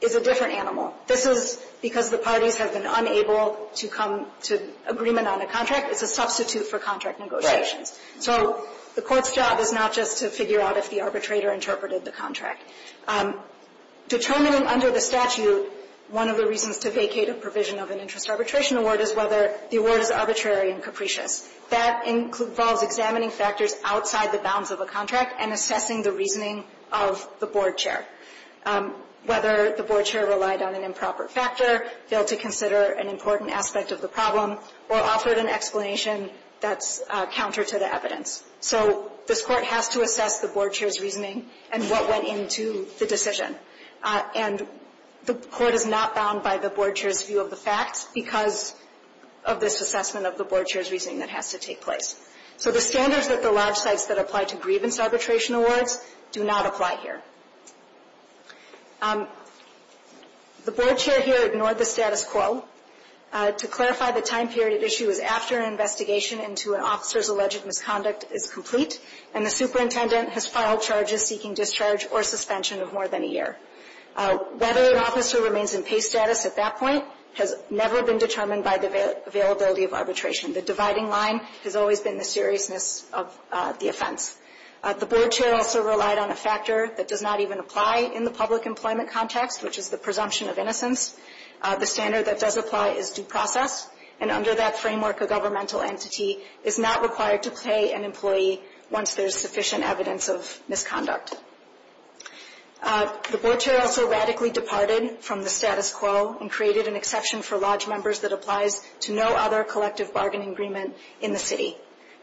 is a different animal. This is because the parties have been unable to come to agreement on a contract. It's a substitute for contract negotiations. So the court's job is not just to figure out if the arbitrator interpreted the contract. Determining under the statute one of the reasons to vacate a provision of an interest arbitration award is whether the award is arbitrary and capricious. That involves examining factors outside the bounds of a contract and assessing the reasoning of the board chair. Whether the board chair relied on an improper factor, failed to consider an important aspect of the problem, or offered an explanation that's counter to the evidence. So this Court has to assess the board chair's reasoning and what went into the decision. And the court is not bound by the board chair's view of the facts because of this assessment of the board chair's reasoning that has to take place. So the standards that the large sites that apply to grievance arbitration awards do not apply here. The board chair here ignored the status quo. To clarify, the time period at issue is after an investigation into an officer's alleged misconduct is complete and the superintendent has filed charges seeking discharge or suspension of more than a year. Whether an officer remains in pay status at that point has never been determined by the availability of arbitration. The dividing line has always been the seriousness of the offense. The board chair also relied on a factor that does not even apply in the public employment context, which is the presumption of innocence. The standard that does apply is due process. And under that framework, a governmental entity is not required to pay an employee once there's sufficient evidence of misconduct. The board chair also radically departed from the status quo and created an exception for lodge members that applies to no other collective bargaining agreement in the city.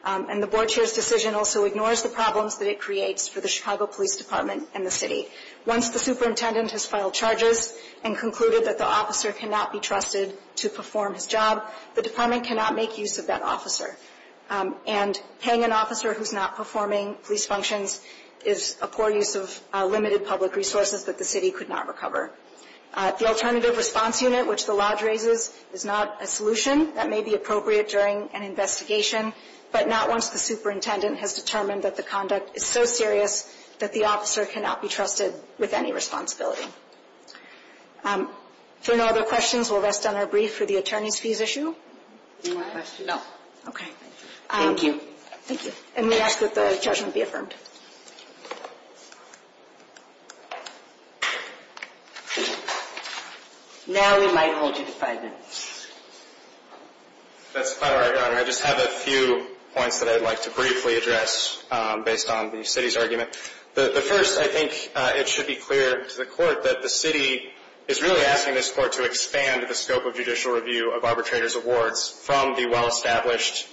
And the board chair's decision also ignores the problems that it creates for the Chicago Police Department and the city. Once the superintendent has filed charges and concluded that the officer cannot be trusted to perform his job, the department cannot make use of that officer. And paying an officer who's not performing police functions is a poor use of limited public resources that the city could not recover. The alternative response unit, which the lodge raises, is not a solution that may be appropriate during an investigation, but not once the superintendent has determined that the conduct is so serious that the officer cannot be trusted with any responsibility. If there are no other questions, we'll rest on our brief for the attorney's fees issue. Any more questions? No. Okay. Thank you. Thank you. And we ask that the judgment be affirmed. Now we might hold you to five minutes. That's fine, Your Honor. I just have a few points that I'd like to briefly address based on the city's argument. The first, I think it should be clear to the court that the city is really asking this court to expand the scope of judicial review of arbitrators' awards from the well-established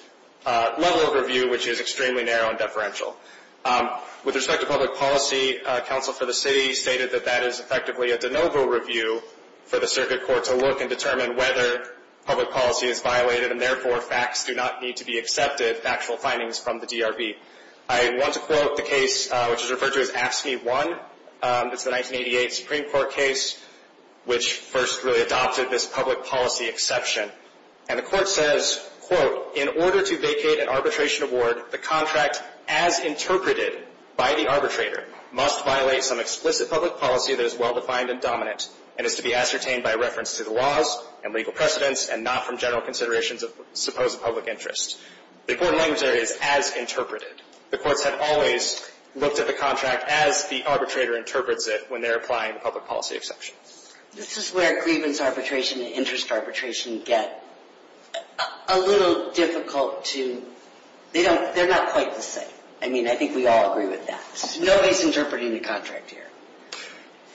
level of review, which is extremely narrow and deferential. With respect to public policy, counsel for the city stated that that is effectively a de novo review for the circuit court to look and determine whether public policy is violated and therefore facts do not need to be accepted, factual findings from the DRB. I want to quote the case which is referred to as AFSCME 1. It's the 1988 Supreme Court case which first really adopted this public policy exception. And the court says, quote, in order to vacate an arbitration award, the contract as interpreted by the arbitrator must violate some explicit public policy that is well-defined and dominant and is to be ascertained by reference to the laws and legal precedents and not from general considerations of supposed public interest. The court language there is as interpreted. The courts have always looked at the contract as the arbitrator interprets it when they're applying the public policy exception. This is where grievance arbitration and interest arbitration get a little difficult to... They're not quite the same. I mean, I think we all agree with that. Nobody's interpreting the contract here.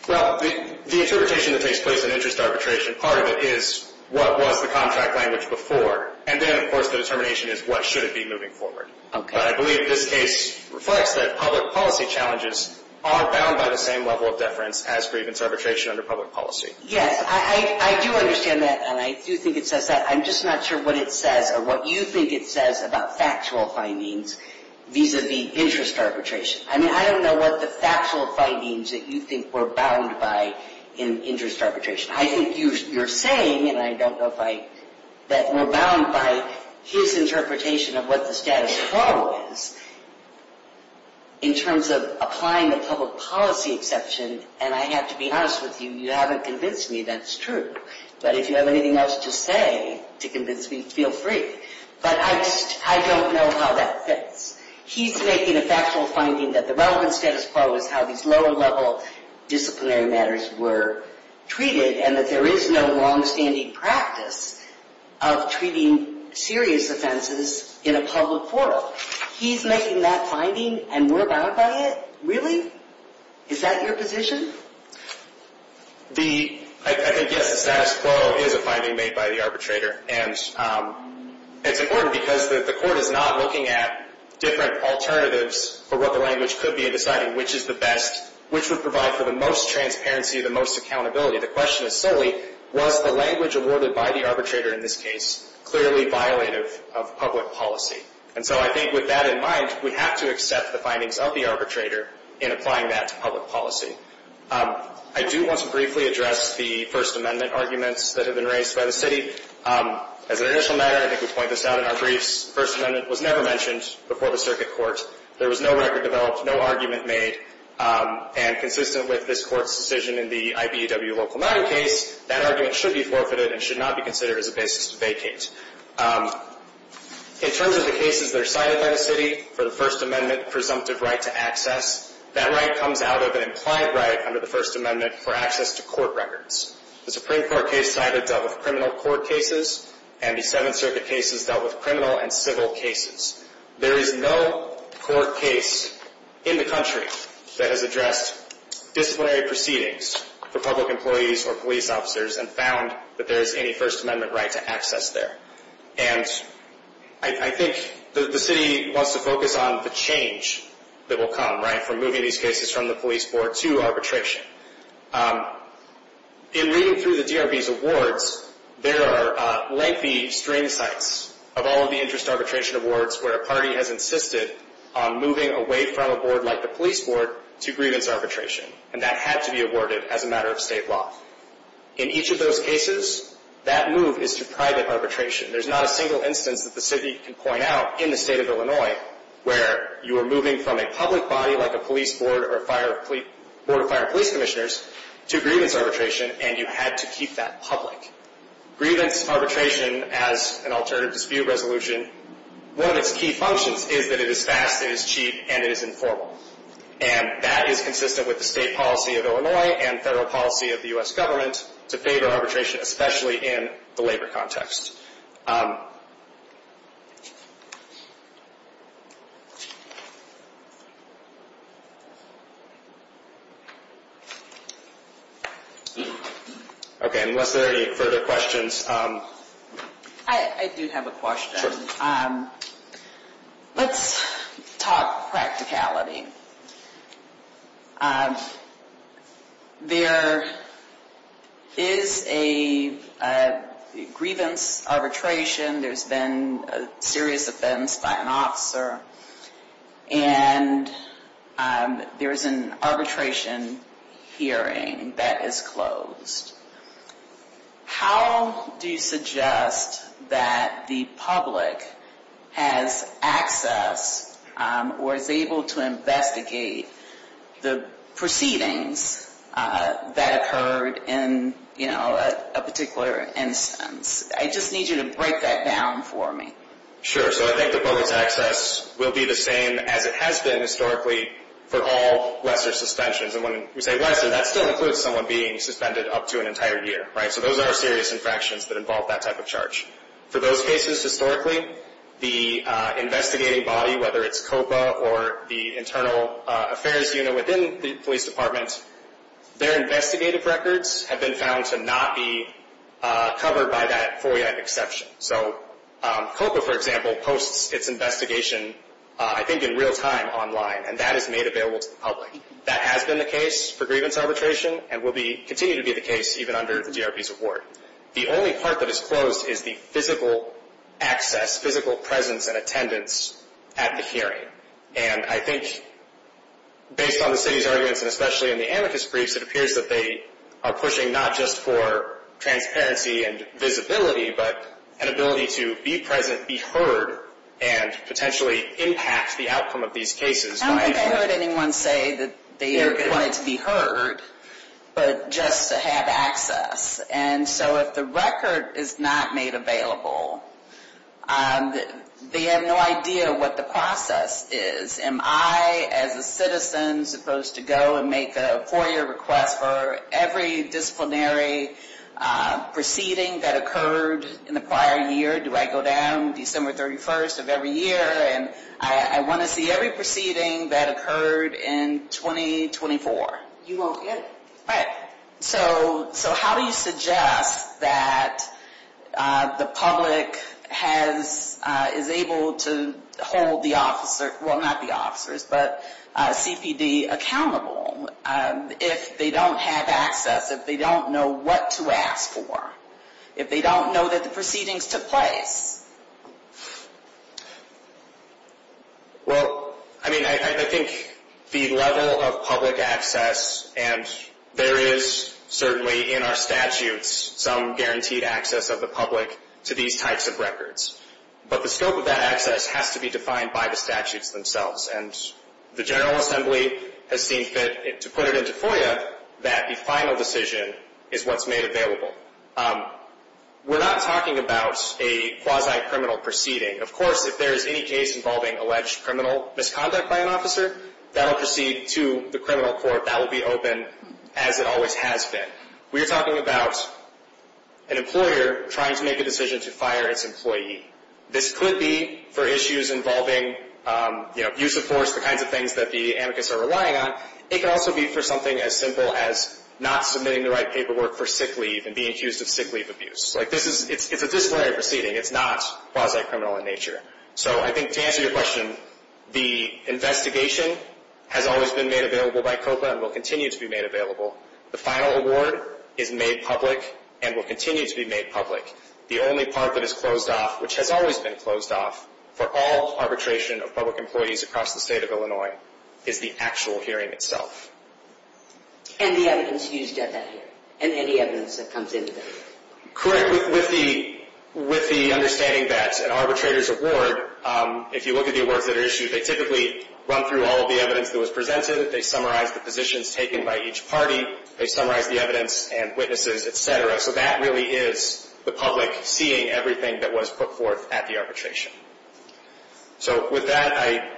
Well, the interpretation that takes place in interest arbitration, part of it is what was the contract language before, and then, of course, the determination is what should it be moving forward. But I believe this case reflects that public policy challenges are bound by the same level of deference as grievance arbitration under public policy. Yes, I do understand that, and I do think it says that. I'm just not sure what it says or what you think it says about factual findings vis-a-vis interest arbitration. I mean, I don't know what the factual findings that you think were bound by in interest arbitration. I think you're saying, and I don't know if I... that were bound by his interpretation of what the status quo is in terms of applying a public policy exception, and I have to be honest with you, you haven't convinced me that's true. But if you have anything else to say to convince me, feel free. But I don't know how that fits. He's making a factual finding that the relevant status quo is how these lower-level disciplinary matters were treated, and that there is no long-standing practice of treating serious offenses in a public portal. He's making that finding, and we're bound by it? Really? Is that your position? I think, yes, the status quo is a finding made by the arbitrator, and it's important because the court is not looking at different alternatives for what the language could be in deciding which is the best, which would provide for the most transparency, the most accountability. The question is solely, was the language awarded by the arbitrator in this case clearly violative of public policy? And so I think with that in mind, we have to accept the findings of the arbitrator in applying that to public policy. I do want to briefly address the First Amendment arguments that have been raised by the city. As an initial matter, I think we point this out in our briefs, the First Amendment was never mentioned before the circuit court. There was no record developed, no argument made, and consistent with this court's decision in the IBEW Local 9 case, that argument should be forfeited and should not be considered as a basis to vacate. In terms of the cases that are cited by the city for the First Amendment presumptive right to access, that right comes out of an implied right under the First Amendment for access to court records. The Supreme Court case cited dealt with criminal court cases, and the Seventh Circuit cases dealt with criminal and civil cases. There is no court case in the country that has addressed disciplinary proceedings for public employees or police officers and found that there is any First Amendment right to access there. And I think the city wants to focus on the change that will come, right, from moving these cases from the police board to arbitration. In reading through the DRB's awards, there are lengthy string cites of all of the interest arbitration awards where a party has insisted on moving away from a board like the police board to grievance arbitration, and that had to be awarded as a matter of state law. In each of those cases, that move is to private arbitration. There's not a single instance that the city can point out in the state of Illinois where you are moving from a public body like a police board or a board of fire and police commissioners to grievance arbitration, and you had to keep that public. Grievance arbitration, as an alternative dispute resolution, one of its key functions is that it is fast, it is cheap, and it is informal. And that is consistent with the state policy of Illinois and federal policy of the U.S. government to favor arbitration, especially in the labor context. Okay, unless there are any further questions. I do have a question. Let's talk practicality. There is a grievance arbitration. There's been a serious offense by an officer, and there's an arbitration hearing that is closed. How do you suggest that the public has access or is able to investigate the proceedings that occurred in a particular instance? I just need you to break that down for me. Sure, so I think the public's access will be the same as it has been historically for all lesser suspensions. And when we say lesser, that still includes someone being suspended up to an entire year. So those are serious infractions that involve that type of charge. For those cases, historically, the investigating body, whether it's COPA or the internal affairs unit within the police department, their investigative records have been found to not be covered by that FOIA exception. So COPA, for example, posts its investigation, I think, in real time online, and that is made available to the public. That has been the case for grievance arbitration and will continue to be the case even under the DRB's award. The only part that is closed is the physical access, physical presence and attendance at the hearing. And I think based on the city's arguments, and especially in the amicus briefs, it appears that they are pushing not just for transparency and visibility, but an ability to be present, be heard, and potentially impact the outcome of these cases. I don't think I heard anyone say that they wanted to be heard, but just to have access. And so if the record is not made available, they have no idea what the process is. Am I, as a citizen, supposed to go and make a FOIA request for every disciplinary proceeding that occurred in the prior year? Do I go down December 31st of every year? And I want to see every proceeding that occurred in 2024. You won't get it. All right. So how do you suggest that the public is able to hold the officer, well, not the officers, but CPD accountable if they don't have access, if they don't know what to ask for, if they don't know that the proceedings took place? Well, I mean, I think the level of public access, and there is certainly in our statutes some guaranteed access of the public to these types of records. But the scope of that access has to be defined by the statutes themselves. And the General Assembly has seen fit to put it into FOIA that the final decision is what's made available. We're not talking about a quasi-criminal proceeding. Of course, if there is any case involving alleged criminal misconduct by an officer, that will proceed to the criminal court. That will be open as it always has been. We are talking about an employer trying to make a decision to fire its employee. This could be for issues involving use of force, the kinds of things that the amicus are relying on. It could also be for something as simple as not submitting the right paperwork for sick leave and being accused of sick leave abuse. It's a disciplinary proceeding. It's not quasi-criminal in nature. So I think to answer your question, the investigation has always been made available by COPA and will continue to be made available. The final award is made public and will continue to be made public. The only part that is closed off, which has always been closed off, for all arbitration of public employees across the state of Illinois is the actual hearing itself. And the evidence used at that hearing and any evidence that comes into that hearing. Correct. With the understanding that an arbitrator's award, if you look at the awards that are issued, they typically run through all of the evidence that was presented. They summarize the positions taken by each party. They summarize the evidence and witnesses, et cetera. So that really is the public seeing everything that was put forth at the arbitration. So with that, I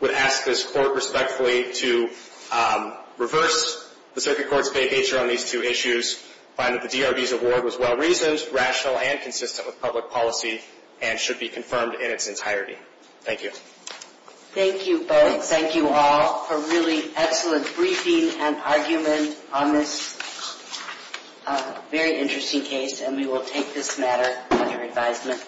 would ask this Court respectfully to reverse the Circuit Court's vacatur on these two issues, find that the DRB's award was well-reasoned, rational, and consistent with public policy and should be confirmed in its entirety. Thank you. Thank you both. And thank you all for really excellent briefing and argument on this very interesting case. And we will take this matter under advisement.